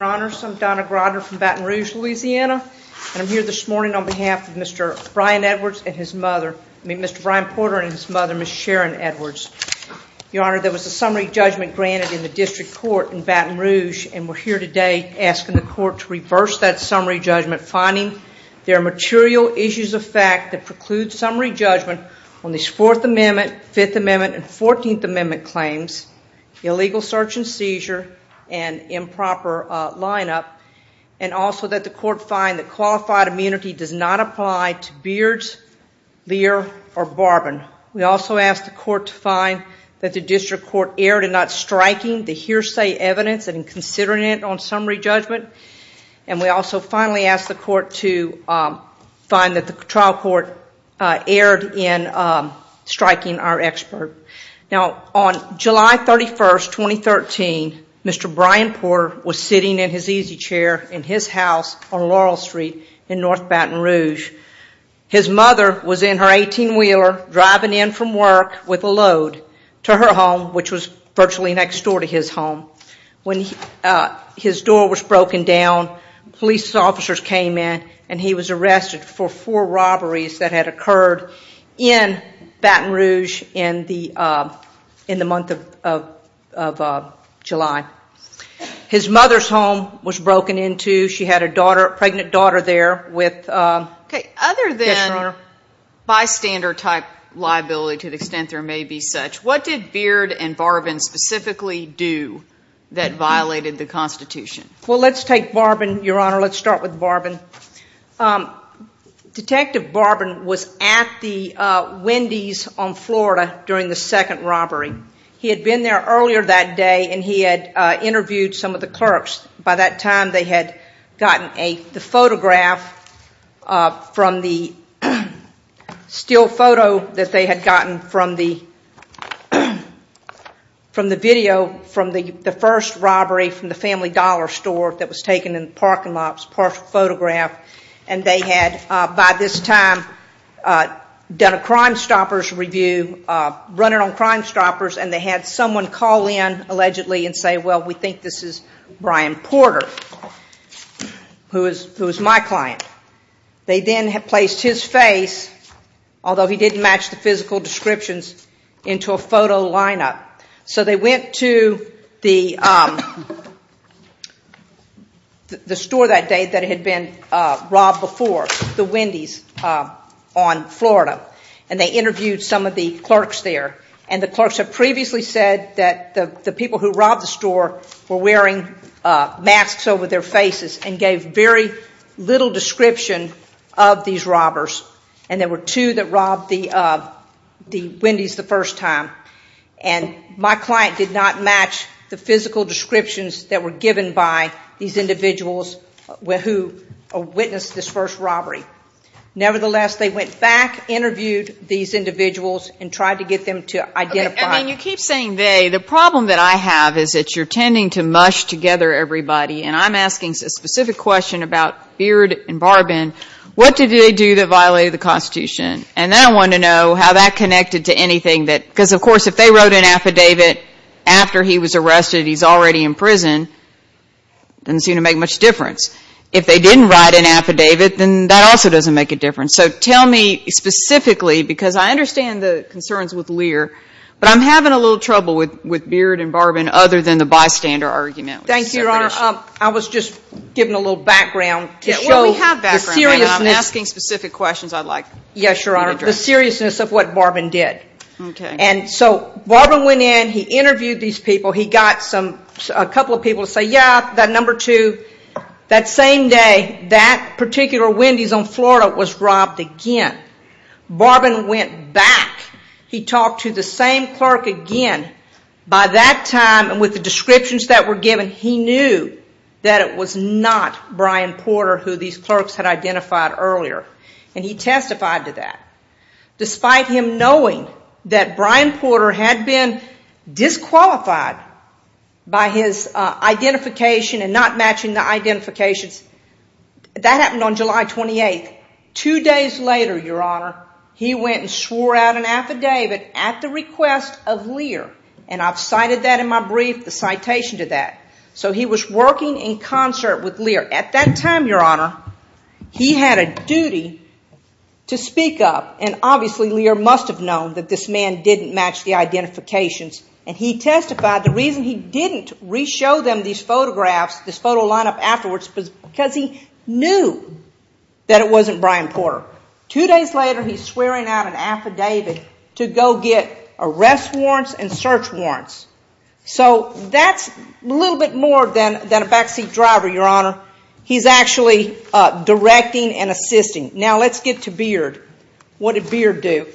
Your honors, I'm Donna Grodner from Baton Rouge, Louisiana, and I'm here this morning on behalf of Mr. Brian Edwards and his mother, I mean, Mr. Brian Porter and his mother, Ms. Sharon Edwards. Your honor, there was a summary judgment granted in the district court in Baton Rouge, and we're here today asking the court to reverse that summary judgment, finding there are material issues of fact that preclude summary judgment on these Fourth Amendment, Fifth Amendment, and Fourteenth Amendment claims, illegal search and seizure, and improper lineup, and also that the court find that qualified immunity does not apply to Beards, Lear, or Barbin. We also ask the court to find that the district court erred in not striking the hearsay evidence and in considering it on summary judgment, and we also finally ask the court to find that the trial court erred in striking our expert. Now, on July 31, 2013, Mr. Brian Porter was sitting in his easy chair in his house on Laurel Street in North Baton Rouge. His mother was in her 18-wheeler driving in from work with a load to her home, which was virtually next door to his home. When his door was broken down, police officers came in, and he was arrested for four robberies that had occurred in Baton Rouge in the month of July. His mother's home was broken into. She had a daughter, a pregnant daughter there with ‑‑ Okay, other than bystander-type liability to the extent there may be such, what did Beard and Barbin specifically do that violated the Constitution? Well, let's take Barbin, Your Honor. Let's start with Barbin. Detective Barbin was at the Wendy's on Florida during the second robbery. He had been there earlier that day, and he had interviewed some of the clerks. By that time, they had gotten the photograph from the still photo that they had gotten from the video from the first robbery from the Family Dollar store that was taken in the parking lot, a partial photograph. And they had, by this time, done a Crimestoppers review, running on Crimestoppers, and they had someone call in, allegedly, and say, well, we think this is Brian Porter, who is my client. They then had placed his face, although he didn't match the physical descriptions, into a photo lineup. So they went to the store that day that had been robbed before, the Wendy's on Florida, and they interviewed some of the clerks there. And the clerks had previously said that the people who robbed the store were wearing masks over their faces and gave very little description of these robbers. And there were two that robbed the Wendy's the first time. And my client did not match the physical descriptions that were given by these individuals who witnessed this first robbery. Nevertheless, they went back, interviewed these individuals, and tried to get them to identify. I mean, you keep saying they. The problem that I have is that you're tending to mush together everybody. And I'm asking a specific question about Beard and Barbin. What did they do that violated the Constitution? And then I want to know how that connected to anything that – because, of course, if they wrote an affidavit after he was arrested, he's already in prison, it doesn't seem to make much difference. If they didn't write an affidavit, then that also doesn't make a difference. So tell me specifically, because I understand the concerns with Lear, but I'm having a little trouble with Beard and Barbin other than the bystander argument. Thank you, Your Honor. I was just giving a little background to show the seriousness. Well, we have background, and I'm asking specific questions I'd like you to address. Yes, Your Honor. The seriousness of what Barbin did. Okay. And so Barbin went in. He interviewed these people. He got a couple of people to say, yeah, that number two. That same day, that particular Wendy's on Florida was robbed again. Barbin went back. He talked to the same clerk again. By that time and with the descriptions that were given, he knew that it was not Brian Porter who these clerks had identified earlier, and he testified to that. Despite him knowing that Brian Porter had been disqualified by his identification and not matching the identifications, that happened on July 28th. Two days later, Your Honor, he went and swore out an affidavit at the request of Lear, and I've cited that in my brief, the citation to that. So he was working in concert with Lear. At that time, Your Honor, he had a duty to speak up, and obviously Lear must have known that this man didn't match the identifications, and he testified the reason he didn't re-show them these photographs, this photo lineup afterwards was because he knew that it wasn't Brian Porter. Two days later, he's swearing out an affidavit to go get arrest warrants and search warrants. So that's a little bit more than a backseat driver, Your Honor. He's actually directing and assisting. Now let's get to Beard. What did Beard do?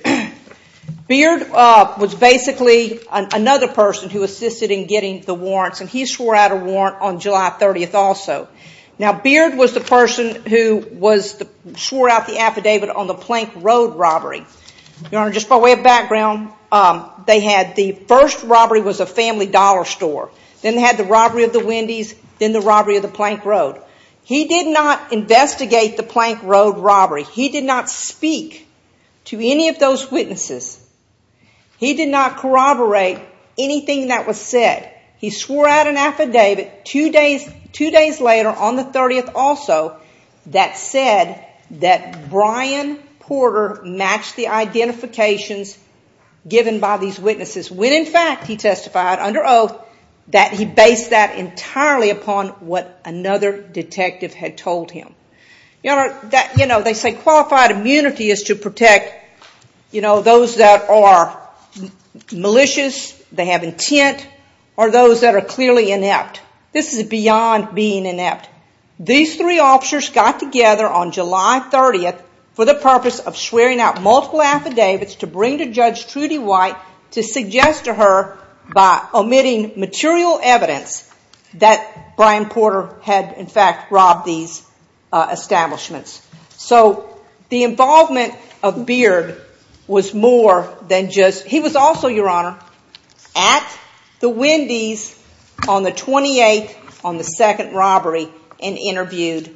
Beard was basically another person who assisted in getting the warrants, and he swore out a warrant on July 30th also. Now Beard was the person who swore out the affidavit on the Plank Road robbery. Your Honor, just by way of background, they had the first robbery was a family dollar store. Then they had the robbery of the Wendy's, then the robbery of the Plank Road. He did not investigate the Plank Road robbery. He did not speak to any of those witnesses. He did not corroborate anything that was said. He swore out an affidavit two days later on the 30th also that said that Brian Porter matched the identifications given by these witnesses, when in fact he testified under oath that he based that entirely upon what another detective had told him. Your Honor, they say qualified immunity is to protect those that are malicious, they have intent, or those that are clearly inept. This is beyond being inept. These three officers got together on July 30th for the purpose of swearing out multiple affidavits to bring to Judge Trudy White to suggest to her by omitting material evidence that Brian Porter had in fact robbed these establishments. So the involvement of Beard was more than just... and interviewed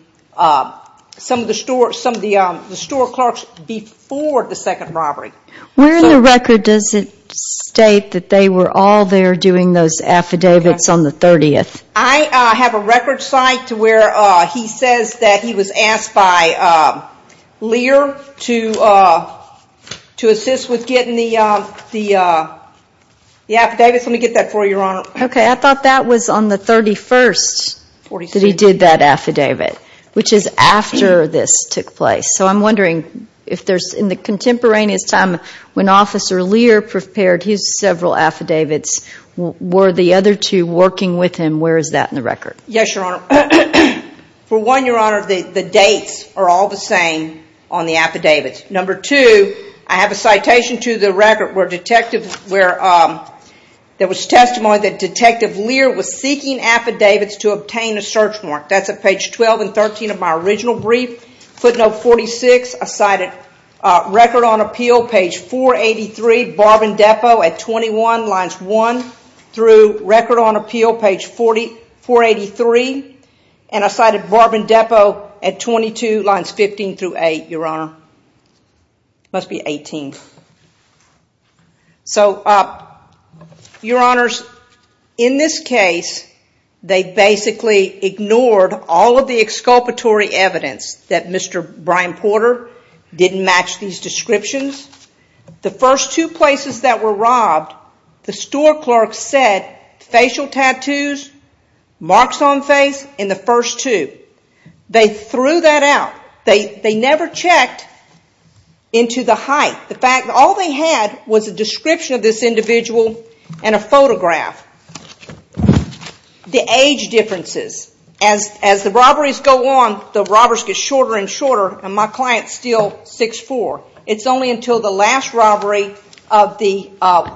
some of the store clerks before the second robbery. Where in the record does it state that they were all there doing those affidavits on the 30th? I have a record site where he says that he was asked by Lear to assist with getting the affidavits. Okay, I thought that was on the 31st that he did that affidavit, which is after this took place. So I'm wondering if there's... in the contemporaneous time when Officer Lear prepared his several affidavits, were the other two working with him? Where is that in the record? Yes, Your Honor. For one, Your Honor, the dates are all the same on the affidavits. Number two, I have a citation to the record where detectives... there was testimony that Detective Lear was seeking affidavits to obtain a search mark. That's at page 12 and 13 of my original brief. Footnote 46, I cited record on appeal, page 483, Barb and Depot at 21, lines 1 through record on appeal, page 483. And I cited Barb and Depot at 22, lines 15 through 8, Your Honor. It must be 18. So, Your Honors, in this case, they basically ignored all of the exculpatory evidence that Mr. Brian Porter didn't match these descriptions. The first two places that were robbed, the store clerk said facial tattoos, marks on face in the first two. They threw that out. They never checked into the height. The fact that all they had was a description of this individual and a photograph. The age differences. As the robberies go on, the robbers get shorter and shorter, and my client's still 6'4". It's only until the last robbery of the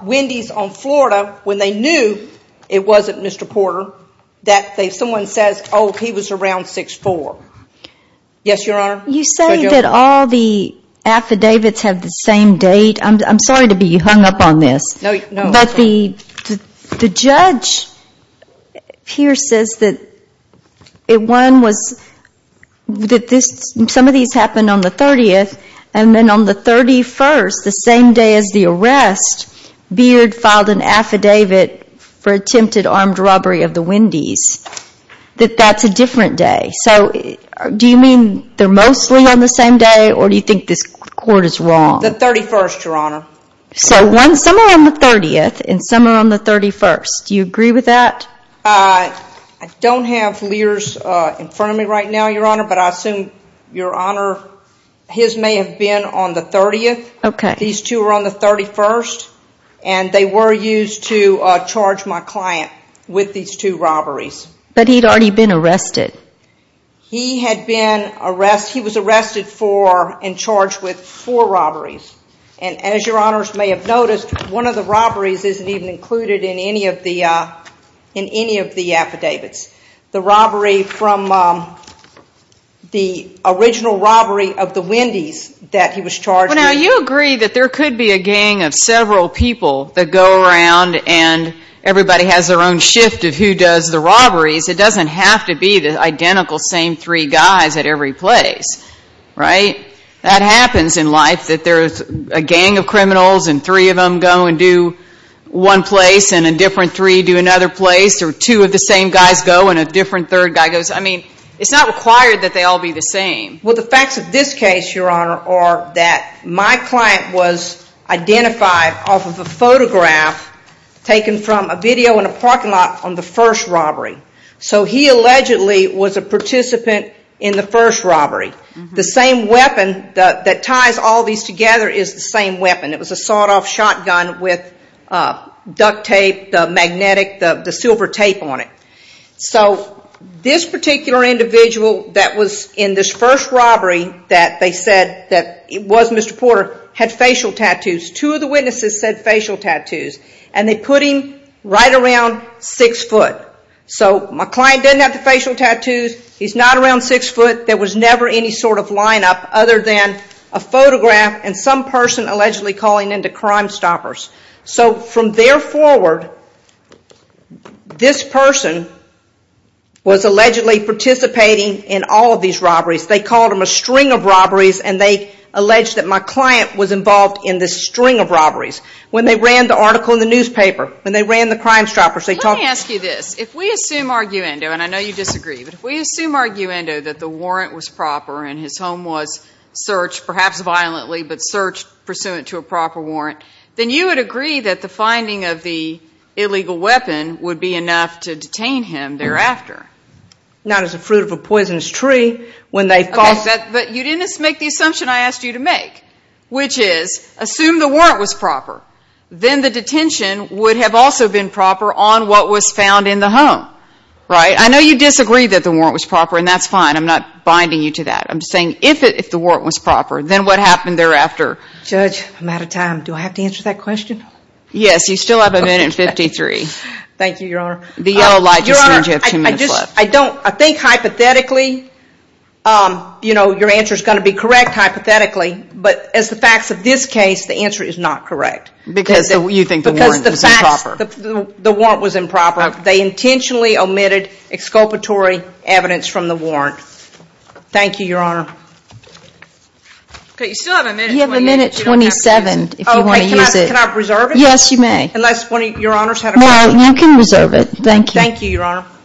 Wendy's on Florida, when they knew it wasn't Mr. Porter, that someone says, oh, he was around 6'4". Yes, Your Honor? You say that all the affidavits have the same date. I'm sorry to be hung up on this. No. But the judge here says that some of these happened on the 30th, and then on the 31st, the same day as the arrest, Beard filed an affidavit for attempted armed robbery of the Wendy's, that that's a different day. So do you mean they're mostly on the same day, or do you think this court is wrong? The 31st, Your Honor. So some are on the 30th, and some are on the 31st. Do you agree with that? I don't have Lear's in front of me right now, Your Honor, but I assume, Your Honor, his may have been on the 30th. Okay. These two are on the 31st, and they were used to charge my client with these two robberies. But he'd already been arrested. He had been arrested. He was arrested for and charged with four robberies. And as Your Honors may have noticed, one of the robberies isn't even included in any of the affidavits. The robbery from the original robbery of the Wendy's that he was charged with. Well, now, you agree that there could be a gang of several people that go around and everybody has their own shift of who does the robberies. It doesn't have to be the identical same three guys at every place, right? That happens in life, that there's a gang of criminals, and three of them go and do one place, and a different three do another place, or two of the same guys go and a different third guy goes. I mean, it's not required that they all be the same. Well, the facts of this case, Your Honor, are that my client was identified off of a photograph taken from a video in a parking lot on the first robbery. So he allegedly was a participant in the first robbery. The same weapon that ties all these together is the same weapon. It was a sawed-off shotgun with duct tape, the magnetic, the silver tape on it. So this particular individual that was in this first robbery that they said that it was Mr. Porter had facial tattoos. Two of the witnesses said facial tattoos, and they put him right around six foot. So my client didn't have the facial tattoos. He's not around six foot. There was never any sort of lineup other than a photograph and some person allegedly calling into Crimestoppers. So from there forward, this person was allegedly participating in all of these robberies. They called them a string of robberies, and they alleged that my client was involved in this string of robberies. When they ran the article in the newspaper, when they ran the Crimestoppers, they talked about it. Let me ask you this. If we assume arguendo, and I know you disagree, but if we assume arguendo that the warrant was proper and his home was searched, perhaps violently, but searched pursuant to a proper warrant, then you would agree that the finding of the illegal weapon would be enough to detain him thereafter. Not as a fruit of a poisonous tree. Okay, but you didn't make the assumption I asked you to make, which is assume the warrant was proper. Then the detention would have also been proper on what was found in the home. I know you disagree that the warrant was proper, and that's fine. I'm not binding you to that. I'm just saying if the warrant was proper, then what happened thereafter? Judge, I'm out of time. Do I have to answer that question? Yes, you still have a minute and 53. Thank you, Your Honor. Your Honor, I think hypothetically, your answer is going to be correct hypothetically, but as the facts of this case, the answer is not correct. Because you think the warrant was improper. Because the warrant was improper. They intentionally omitted exculpatory evidence from the warrant. Thank you, Your Honor. You still have a minute and 28. You have a minute and 27 if you want to use it. Can I reserve it? Yes, you may. No, you can reserve it. Thank you. Thank you, Your Honor. Thank you.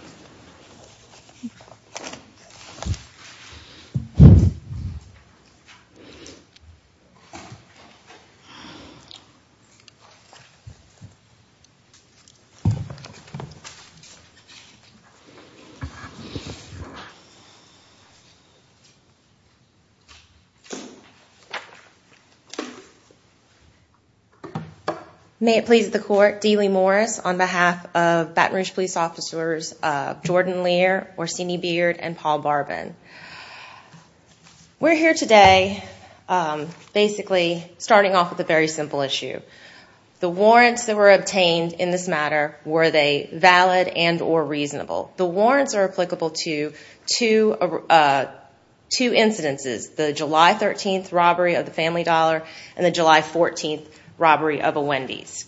May it please the court, Deeley Morris on behalf of Baton Rouge police officers, Jordan Lear, Orsini Beard, and Paul Barbin. We're here today basically starting off with a very simple issue. The warrants that were obtained in this matter, were they valid and or reasonable? The warrants are applicable to two incidences, the July 13th robbery of the Family Dollar and the July 14th robbery of a Wendy's.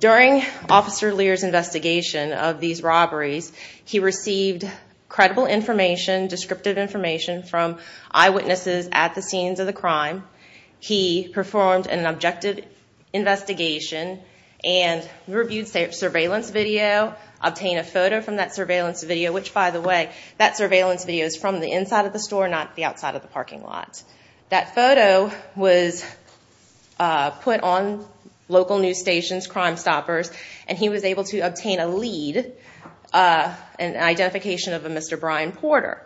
During Officer Lear's investigation of these robberies, he received credible information, descriptive information, from eyewitnesses at the scenes of the crime. He performed an objective investigation and reviewed surveillance video, obtained a photo from that surveillance video, which, by the way, that surveillance video is from the inside of the store, not the outside of the parking lot. That photo was put on local news stations, Crimestoppers, and he was able to obtain a lead, an identification of a Mr. Brian Porter.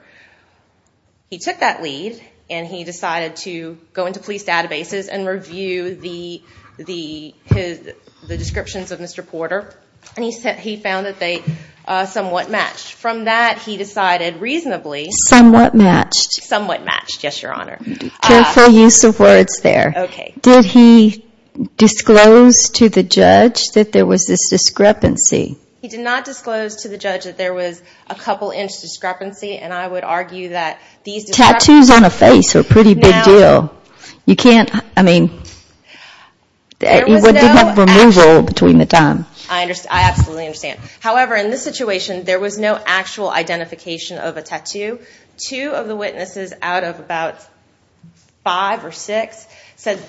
He took that lead and he decided to go into police databases and review the descriptions of Mr. Porter, and he found that they somewhat matched. From that, he decided reasonably... Somewhat matched. Somewhat matched, yes, Your Honor. Careful use of words there. Okay. Did he disclose to the judge that there was this discrepancy? He did not disclose to the judge that there was a couple-inch discrepancy, and I would argue that these discrepancies... Tattoos on a face are a pretty big deal. Now... You can't, I mean... There was no actual... There was no removal between the time. I absolutely understand. However, in this situation, there was no actual identification of a tattoo. Two of the witnesses out of about five or six said...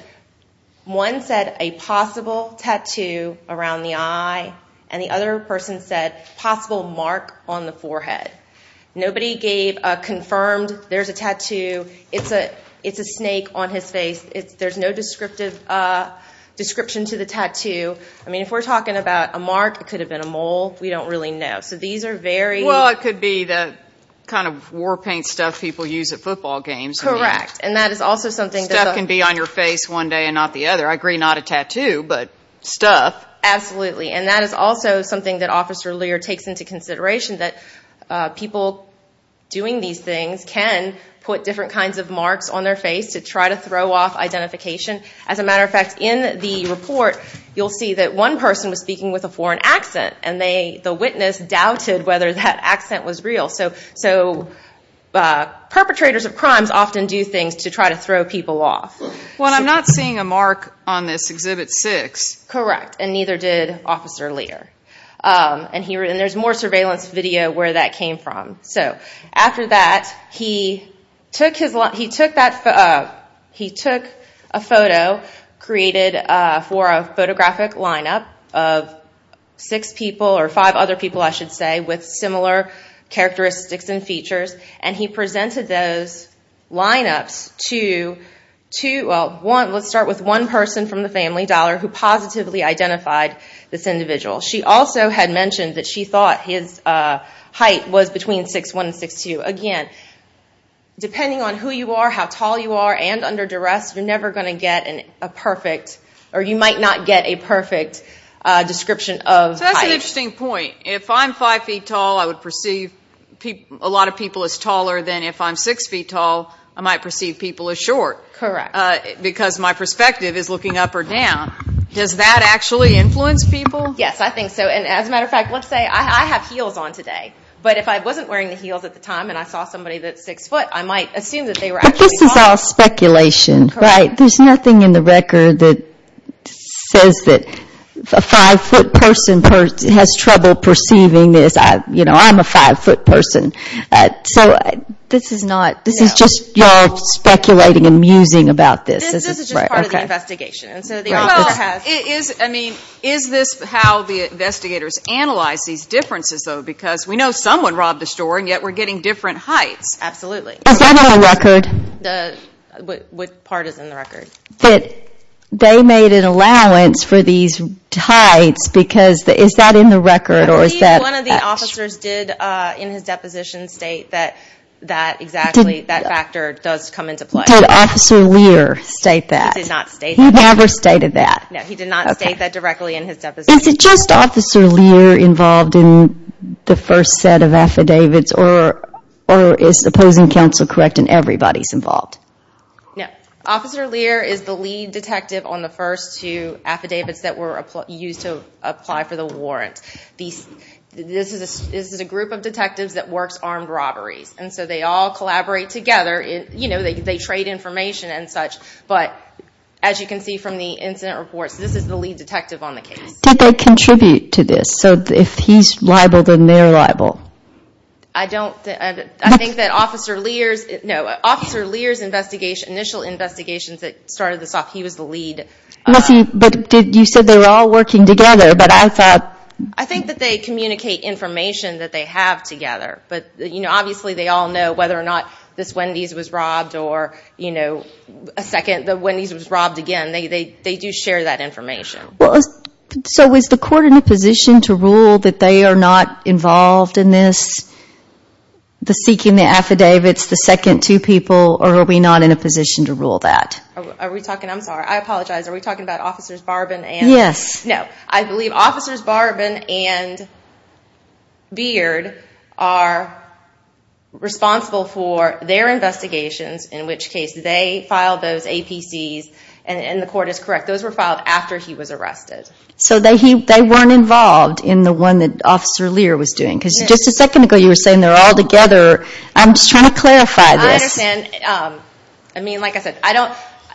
One said, a possible tattoo around the eye, and the other person said, possible mark on the forehead. Nobody gave a confirmed, there's a tattoo, it's a snake on his face. There's no description to the tattoo. I mean, if we're talking about a mark, it could have been a mole. We don't really know. So these are very... What could be the kind of war paint stuff people use at football games? Correct, and that is also something that... Stuff can be on your face one day and not the other. I agree, not a tattoo, but stuff. Absolutely, and that is also something that Officer Lear takes into consideration, that people doing these things can put different kinds of marks on their face to try to throw off identification. As a matter of fact, in the report, you'll see that one person was speaking with a foreign accent, and the witness doubted whether that accent was real. So perpetrators of crimes often do things to try to throw people off. Well, I'm not seeing a mark on this Exhibit 6. Correct, and neither did Officer Lear. And there's more surveillance video where that came from. So after that, he took a photo created for a photographic lineup of six people, or five other people, I should say, with similar characteristics and features, and he presented those lineups to... Well, let's start with one person from the family, Dollar, who positively identified this individual. She also had mentioned that she thought his height was between 6'1 and 6'2. Again, depending on who you are, how tall you are, and under duress, you're never going to get a perfect, or you might not get a perfect description of height. So that's an interesting point. If I'm 5 feet tall, I would perceive a lot of people as taller than if I'm 6 feet tall, I might perceive people as short. Correct. Because my perspective is looking up or down. Does that actually influence people? Yes, I think so. And as a matter of fact, let's say I have heels on today, but if I wasn't wearing the heels at the time and I saw somebody that's 6 foot, I might assume that they were actually tall. But this is all speculation, right? There's nothing in the record that says that a 5-foot person has trouble perceiving this. You know, I'm a 5-foot person. So this is just your speculating and musing about this. This is just part of the investigation. Is this how the investigators analyze these differences, though? Because we know someone robbed a store, and yet we're getting different heights. Absolutely. Is that in the record? What part is in the record? That they made an allowance for these heights, because is that in the record? I believe one of the officers did, in his deposition, state that exactly that factor does come into play. Did Officer Lear state that? No, he did not state that. He never stated that. No, he did not state that directly in his deposition. Is it just Officer Lear involved in the first set of affidavits, or is opposing counsel correct in everybody's involved? No. Officer Lear is the lead detective on the first two affidavits that were used to apply for the warrant. This is a group of detectives that works armed robberies, and so they all collaborate together. They trade information and such. But as you can see from the incident reports, this is the lead detective on the case. Did they contribute to this? So if he's liable, then they're liable. I think that Officer Lear's initial investigations that started this off, he was the lead. But you said they were all working together. I think that they communicate information that they have together. But, you know, obviously they all know whether or not this Wendy's was robbed or, you know, the Wendy's was robbed again. They do share that information. So is the court in a position to rule that they are not involved in this, the seeking the affidavits, the second two people, or are we not in a position to rule that? I'm sorry. I apologize. Are we talking about Officers Barbin and? Yes. No, I believe Officers Barbin and Beard are responsible for their investigations, in which case they filed those APCs, and the court is correct. Those were filed after he was arrested. So they weren't involved in the one that Officer Lear was doing? Because just a second ago you were saying they're all together. I'm just trying to clarify this. I understand. I mean, like I said,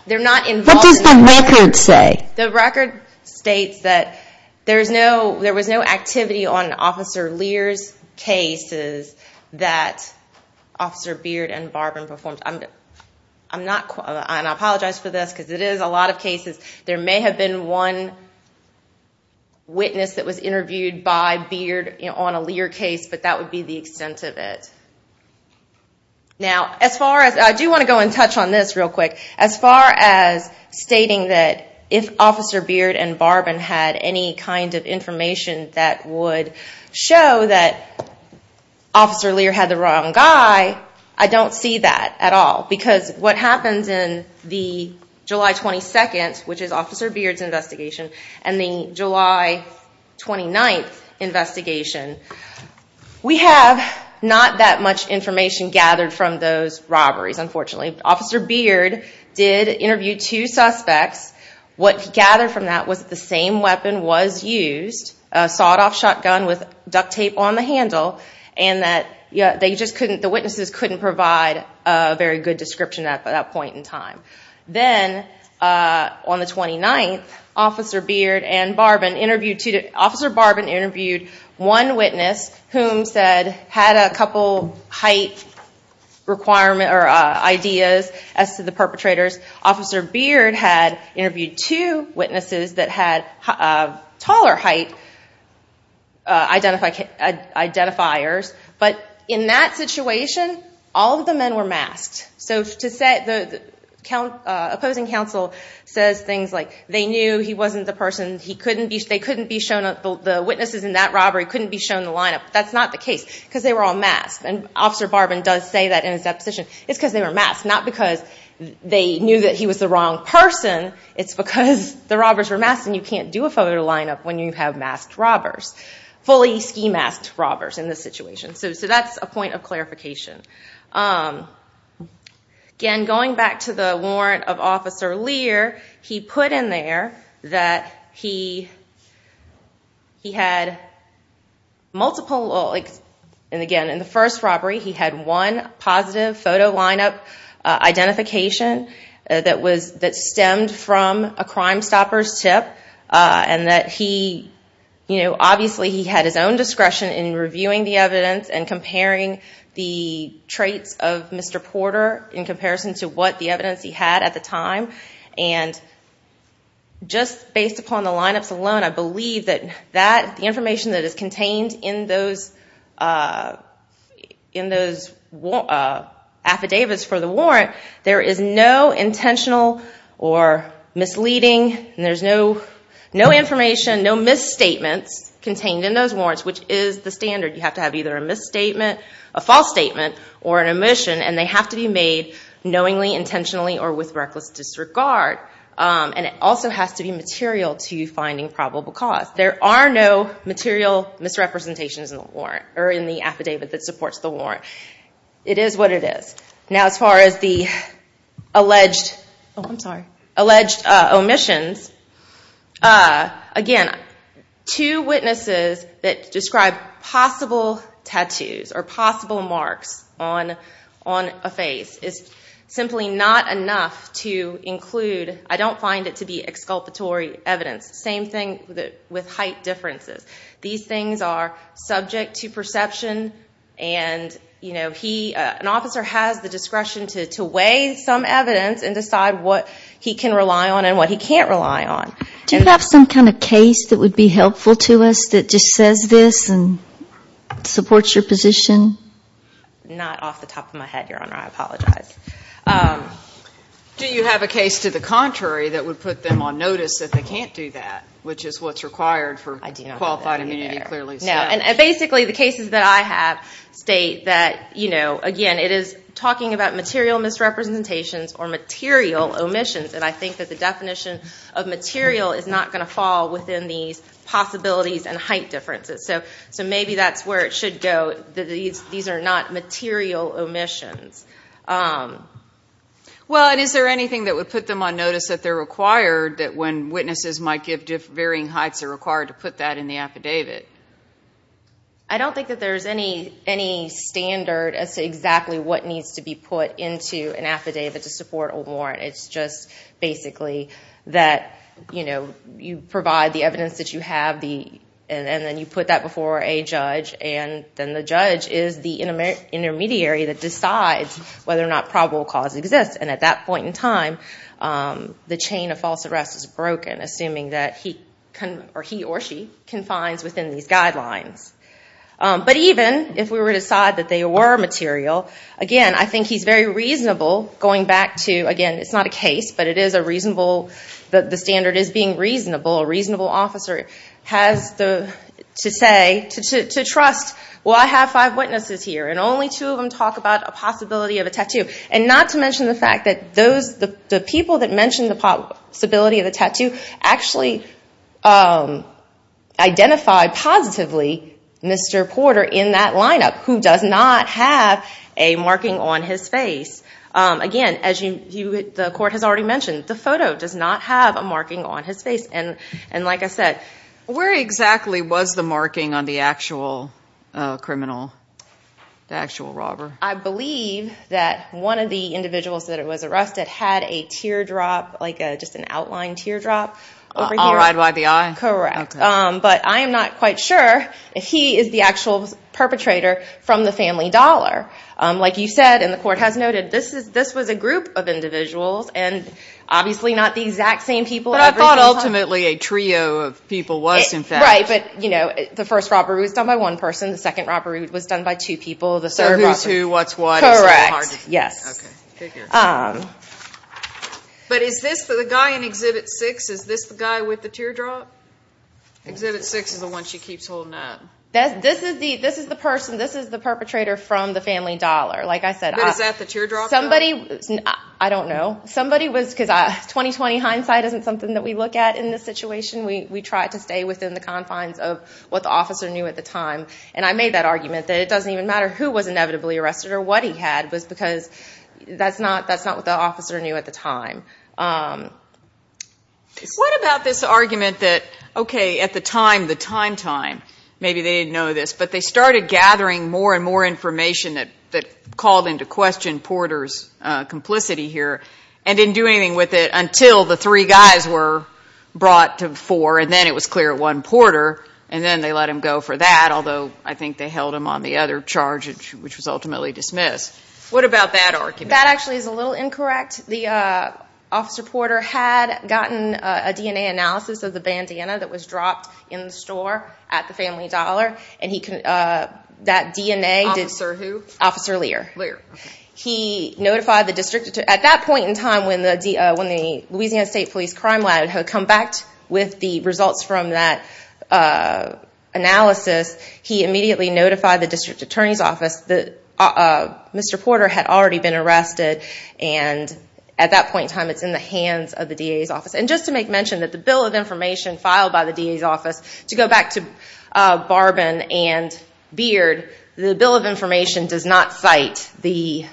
they're not involved in this. What does the record say? The record states that there was no activity on Officer Lear's cases that Officer Beard and Barbin performed. I apologize for this because it is a lot of cases. There may have been one witness that was interviewed by Beard on a Lear case, but that would be the extent of it. Now, I do want to go in touch on this real quick. As far as stating that if Officer Beard and Barbin had any kind of information that would show that Officer Lear had the wrong guy, I don't see that at all. Because what happens in the July 22nd, which is Officer Beard's investigation, and the July 29th investigation, we have not that much information gathered from those robberies, unfortunately. Officer Beard did interview two suspects. What he gathered from that was that the same weapon was used, a sawed-off shotgun with duct tape on the handle, and that the witnesses couldn't provide a very good description at that point in time. Then on the 29th, Officer Beard and Officer Barbin interviewed one witness who had a couple height ideas as to the perpetrators. Officer Beard had interviewed two witnesses that had taller height identifiers. But in that situation, all of the men were masked. So the opposing counsel says things like, they knew he wasn't the person. The witnesses in that robbery couldn't be shown the lineup. That's not the case, because they were all masked. Officer Barbin does say that in his deposition. It's because they were masked, not because they knew that he was the wrong person. It's because the robbers were masked, and you can't do a photo lineup when you have masked robbers, fully ski-masked robbers in this situation. So that's a point of clarification. Again, going back to the warrant of Officer Lear, he put in there that he had multiple... Again, in the first robbery, he had one positive photo lineup identification that stemmed from a Crimestoppers tip, and that obviously he had his own discretion in reviewing the evidence and comparing the traits of Mr. Porter in comparison to what the evidence he had at the time. And just based upon the lineups alone, I believe that the information that is contained in those affidavits for the warrant, there is no intentional or misleading... There's no information, no misstatements contained in those warrants, which is the standard. You have to have either a false statement or an omission, and they have to be made knowingly, intentionally, or with reckless disregard. And it also has to be material to finding probable cause. There are no material misrepresentations in the affidavit that supports the warrant. It is what it is. Now, as far as the alleged omissions, again, two witnesses that describe possible tattoos or possible marks on a face is simply not enough to include... I don't find it to be exculpatory evidence. Same thing with height differences. These things are subject to perception, and an officer has the discretion to weigh some evidence and decide what he can rely on and what he can't rely on. Do you have some kind of case that would be helpful to us that just says this and supports your position? Not off the top of my head, Your Honor. I apologize. Do you have a case to the contrary that would put them on notice that they can't do that, which is what's required for qualified immunity, clearly? No. And basically, the cases that I have state that, again, it is talking about material misrepresentations or material omissions, and I think that the definition of material is not going to fall within these possibilities and height differences. So maybe that's where it should go, that these are not material omissions. Is there anything that would put them on notice that they're required when witnesses might give varying heights are required to put that in the affidavit? I don't think that there's any standard as to exactly what needs to be put into an affidavit to support a warrant. It's just basically that you provide the evidence that you have, and then you put that before a judge, and then the judge is the intermediary that decides whether or not probable cause exists. And at that point in time, the chain of false arrest is broken, assuming that he or she confines within these guidelines. But even if we were to decide that they were material, again, I think he's very reasonable going back to, again, it's not a case, but the standard is being reasonable. A reasonable officer has to say, to trust, well, I have five witnesses here, and only two of them talk about a possibility of a tattoo. And not to mention the fact that the people that mentioned the possibility of a tattoo actually identified positively Mr. Porter in that lineup, who does not have a marking on his face. Again, as the court has already mentioned, the photo does not have a marking on his face. And like I said... Where exactly was the marking on the actual criminal, the actual robber? I believe that one of the individuals that was arrested had a teardrop, like just an outline teardrop over here. All right by the eye? Correct. But I am not quite sure if he is the actual perpetrator from the family dollar. Like you said, and the court has noted, this was a group of individuals, and obviously not the exact same people. But I thought ultimately a trio of people was, in fact. Right, but, you know, the first robbery was done by one person. The second robbery was done by two people. So who's who, what's what. Correct. Yes. But is this the guy in Exhibit 6, is this the guy with the teardrop? Exhibit 6 is the one she keeps holding up. This is the person, this is the perpetrator from the family dollar. Like I said. But is that the teardrop? Somebody, I don't know. Somebody was, because 20-20 hindsight isn't something that we look at in this situation. We try to stay within the confines of what the officer knew at the time. And I made that argument that it doesn't even matter who was inevitably arrested or what he had was because that's not what the officer knew at the time. What about this argument that, okay, at the time, the time time, maybe they didn't know this, but they started gathering more and more information that called into question Porter's complicity here and didn't do anything with it until the three guys were brought to four and then it was clear it wasn't Porter, and then they let him go for that, although I think they held him on the other charge, which was ultimately dismissed. What about that argument? That actually is a little incorrect. The officer Porter had gotten a DNA analysis of the bandana that was dropped in the store at the family dollar, and that DNA did. Officer who? Officer Lear. Lear, okay. He notified the district. At that point in time when the Louisiana State Police Crime Lab had come back with the results from that analysis, he immediately notified the district attorney's office that Mr. Porter had already been arrested, and at that point in time it's in the hands of the DA's office. And just to make mention that the bill of information filed by the DA's office, to go back to Barbin and Beard, the bill of information does not cite the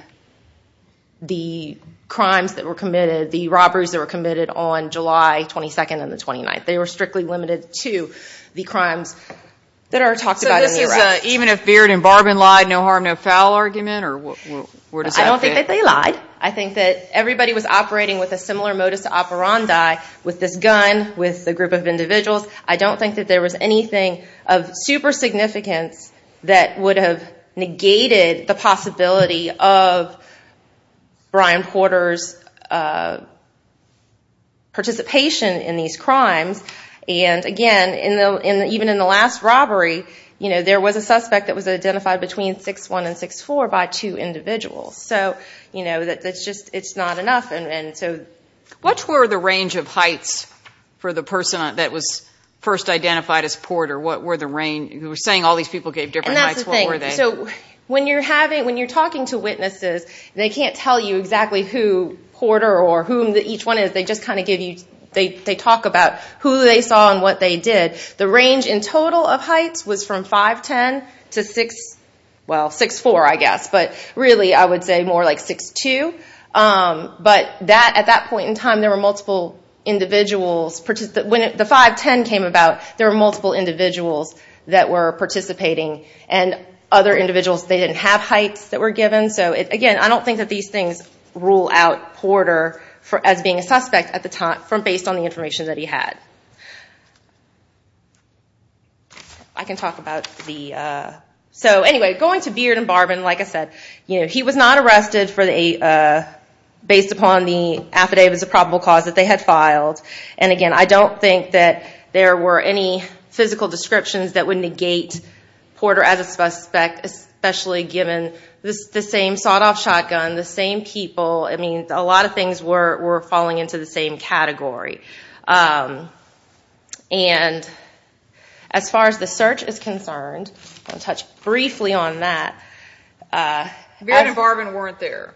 crimes that were committed, the robberies that were committed on July 22nd and the 29th. They were strictly limited to the crimes that are talked about in the arrest. So this is even if Beard and Barbin lied, no harm, no foul argument, or where does that fit? I don't think that they lied. I think that everybody was operating with a similar modus operandi with this gun, with the group of individuals. I don't think that there was anything of super significance that would have negated the possibility of Brian Porter's participation in these crimes. And again, even in the last robbery, there was a suspect that was identified between 6-1 and 6-4 by two individuals. So it's just not enough. What were the range of heights for the person that was first identified as Porter? What were the range? You were saying all these people gave different heights, what were they? When you're talking to witnesses, they can't tell you exactly who Porter or who each one is. They talk about who they saw and what they did. The range in total of heights was from 5-10 to 6-4, I guess. But really I would say more like 6-2. But at that point in time, there were multiple individuals. When the 5-10 came about, there were multiple individuals that were participating. And other individuals, they didn't have heights that were given. So again, I don't think that these things rule out Porter as being a suspect at the time, based on the information that he had. So anyway, going to Beard and Barbin, like I said, he was not arrested based upon the affidavits of probable cause that they had filed. And again, I don't think that there were any physical descriptions that would negate Porter as a suspect, especially given the same sawed-off shotgun, the same people. I mean, a lot of things were falling into the same category. And as far as the search is concerned, I'll touch briefly on that. Beard and Barbin weren't there.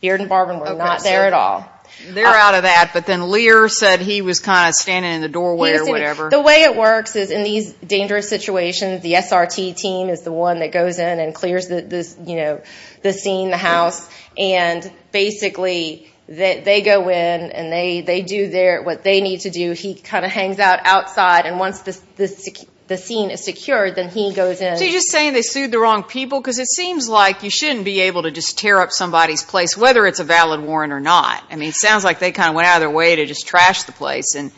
Beard and Barbin were not there at all. They're out of that. But then Lear said he was kind of standing in the doorway or whatever. The way it works is in these dangerous situations, the SRT team is the one that goes in and clears the scene, the house. And basically, they go in and they do what they need to do. He kind of hangs out outside. And once the scene is secured, then he goes in. So you're just saying they sued the wrong people? Because it seems like you shouldn't be able to just tear up somebody's place, whether it's a valid warrant or not. I mean, it sounds like they kind of went out of their way to just trash the place. And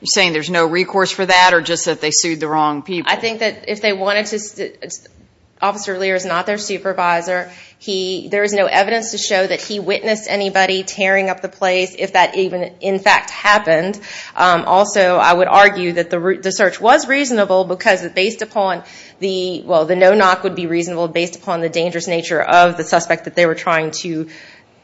you're saying there's no recourse for that or just that they sued the wrong people? I think that if they wanted to, Officer Lear is not their supervisor. There is no evidence to show that he witnessed anybody tearing up the place, if that even in fact happened. Also, I would argue that the search was reasonable because based upon the, well, the no-knock would be reasonable, based upon the dangerous nature of the suspect that they were trying to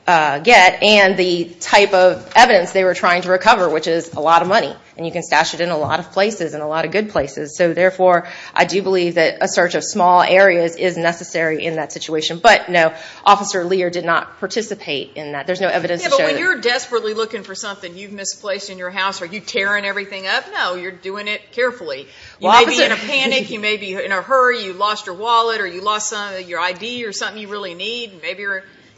get. And the type of evidence they were trying to recover, which is a lot of money. And you can stash it in a lot of places and a lot of good places. So, therefore, I do believe that a search of small areas is necessary in that situation. But, no, Officer Lear did not participate in that. There's no evidence to show that. Yeah, but when you're desperately looking for something you've misplaced in your house, are you tearing everything up? No, you're doing it carefully. You may be in a panic. You may be in a hurry. You lost your wallet or you lost your ID or something you really need. Maybe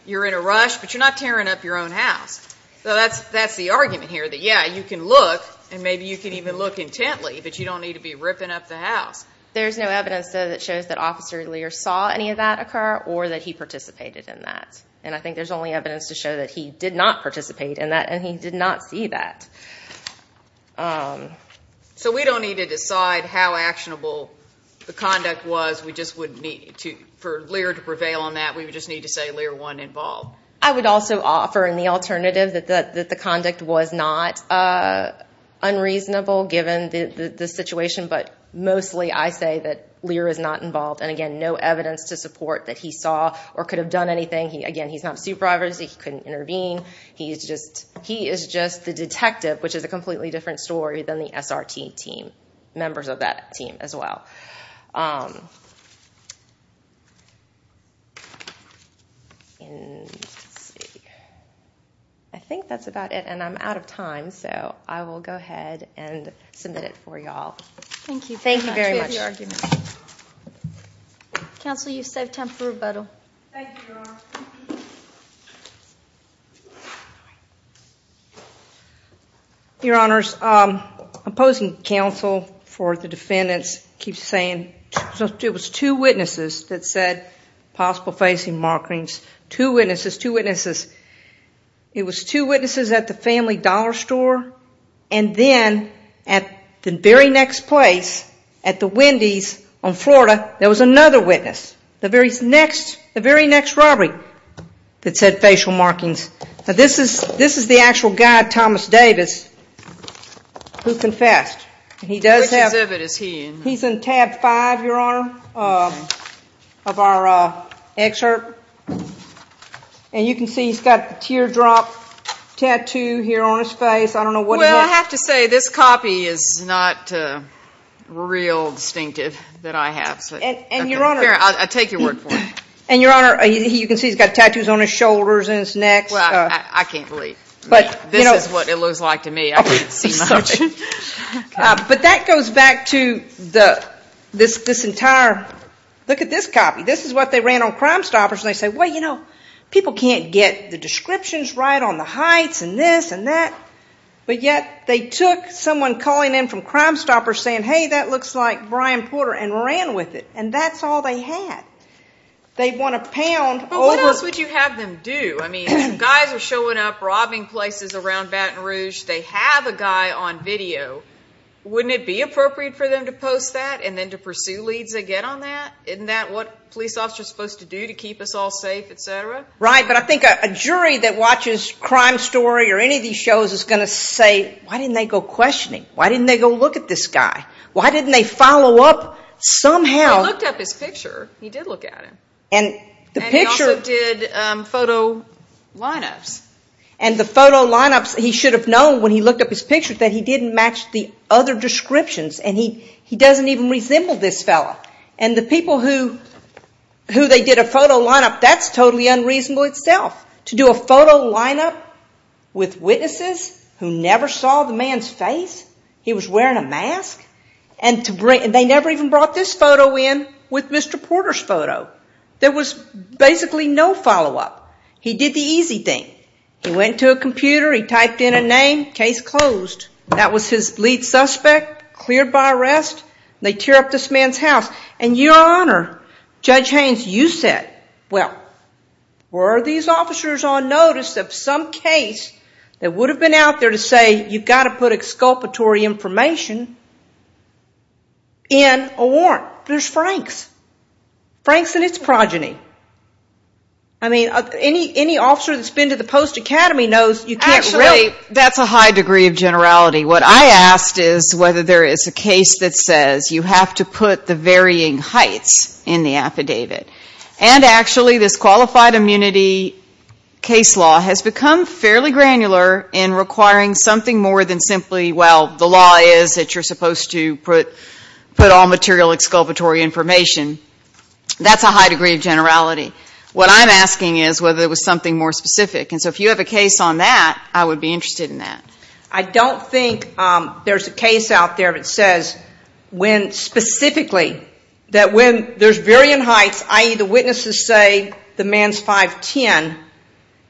you're in a rush, but you're not tearing up your own house. So that's the argument here, that, yeah, you can look and maybe you can even look intently, but you don't need to be ripping up the house. There's no evidence, though, that shows that Officer Lear saw any of that occur or that he participated in that. And I think there's only evidence to show that he did not participate in that and he did not see that. So we don't need to decide how actionable the conduct was. For Lear to prevail on that, we would just need to say Lear wasn't involved. I would also offer in the alternative that the conduct was not unreasonable given the situation, but mostly I say that Lear is not involved. And, again, no evidence to support that he saw or could have done anything. Again, he's not a supervisor, so he couldn't intervene. He is just the detective, which is a completely different story than the SRT team, members of that team as well. I think that's about it, and I'm out of time, so I will go ahead and submit it for you all. Thank you very much. Counsel, you've saved time for rebuttal. Thank you, Laura. Your Honors, opposing counsel for the defendants keeps saying it was two witnesses that said possible facial markings. Two witnesses, two witnesses. It was two witnesses at the Family Dollar Store, and then at the very next place, at the Wendy's on Florida, there was another witness, the very next robbery that said facial markings. Now, this is the actual guy, Thomas Davis, who confessed. Which exhibit is he in? He's in tab five, Your Honor, of our excerpt, and you can see he's got a teardrop tattoo here on his face. I don't know what he did. I have to say this copy is not real distinctive that I have. I'll take your word for it. And, Your Honor, you can see he's got tattoos on his shoulders and his neck. I can't believe. This is what it looks like to me. But that goes back to this entire, look at this copy. This is what they ran on Crimestoppers, and they say, well, you know, people can't get the descriptions right on the heights and this and that. But yet they took someone calling in from Crimestoppers saying, hey, that looks like Brian Porter, and ran with it. And that's all they had. They won a pound over. But what else would you have them do? I mean, guys are showing up robbing places around Baton Rouge. They have a guy on video. Wouldn't it be appropriate for them to post that and then to pursue leads again on that? Isn't that what police officers are supposed to do to keep us all safe, et cetera? Right, but I think a jury that watches Crime Story or any of these shows is going to say, why didn't they go questioning? Why didn't they go look at this guy? Why didn't they follow up somehow? He looked up his picture. He did look at him. And he also did photo lineups. And the photo lineups, he should have known when he looked up his picture that he didn't match the other descriptions, and he doesn't even resemble this fellow. And the people who they did a photo lineup, that's totally unreasonable itself, to do a photo lineup with witnesses who never saw the man's face. He was wearing a mask. And they never even brought this photo in with Mr. Porter's photo. There was basically no follow-up. He did the easy thing. He went to a computer. He typed in a name. Case closed. That was his lead suspect, cleared by arrest. And they tear up this man's house. And, Your Honor, Judge Haynes, you said, well, were these officers on notice of some case that would have been out there to say, you've got to put exculpatory information in a warrant? There's Frank's. Frank's and its progeny. I mean, any officer that's been to the Post Academy knows you can't really ---- Actually, that's a high degree of generality. What I asked is whether there is a case that says you have to put the varying heights in the affidavit. And, actually, this qualified immunity case law has become fairly granular in requiring something more than simply, well, the law is that you're supposed to put all material exculpatory information. That's a high degree of generality. What I'm asking is whether there was something more specific. And so if you have a case on that, I would be interested in that. I don't think there's a case out there that says specifically that when there's varying heights, i.e., the witnesses say the man's 5'10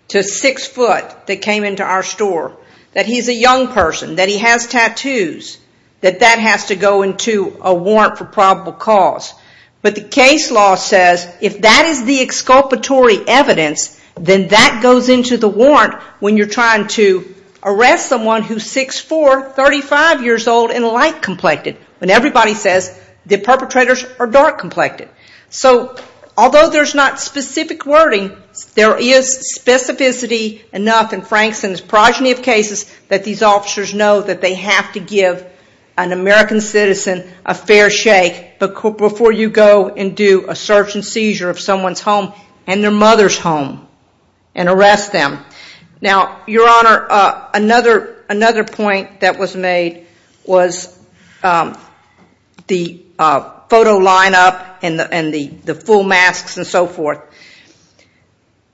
to 6' that came into our store, that he's a young person, that he has tattoos, that that has to go into a warrant for probable cause. But the case law says if that is the exculpatory evidence, then that goes into the warrant when you're trying to arrest someone who's 6'4", 35 years old, and light-complected. When everybody says the perpetrators are dark-complected. So although there's not specific wording, there is specificity enough in Frankston's progeny of cases that these officers know that they have to give an American citizen a fair shake before you go and do a search and seizure of someone's home and their mother's home and arrest them. Now, Your Honor, another point that was made was the photo lineup and the full masks and so forth.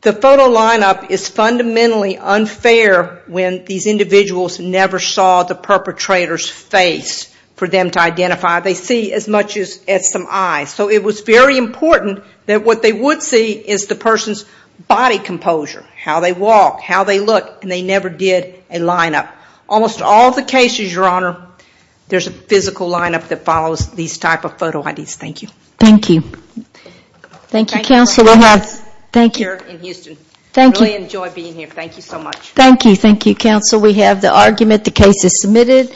The photo lineup is fundamentally unfair when these individuals never saw the perpetrator's face for them to identify. They see as much as some eyes. So it was very important that what they would see is the person's body composure, how they walk, how they look, and they never did a lineup. Almost all the cases, Your Honor, there's a physical lineup that follows these type of photo IDs. Thank you. Thank you. Thank you, Counsel. Thank you for letting us be here in Houston. Thank you. I really enjoy being here. Thank you so much. Thank you. Thank you, Counsel. We have the argument. The case is submitted.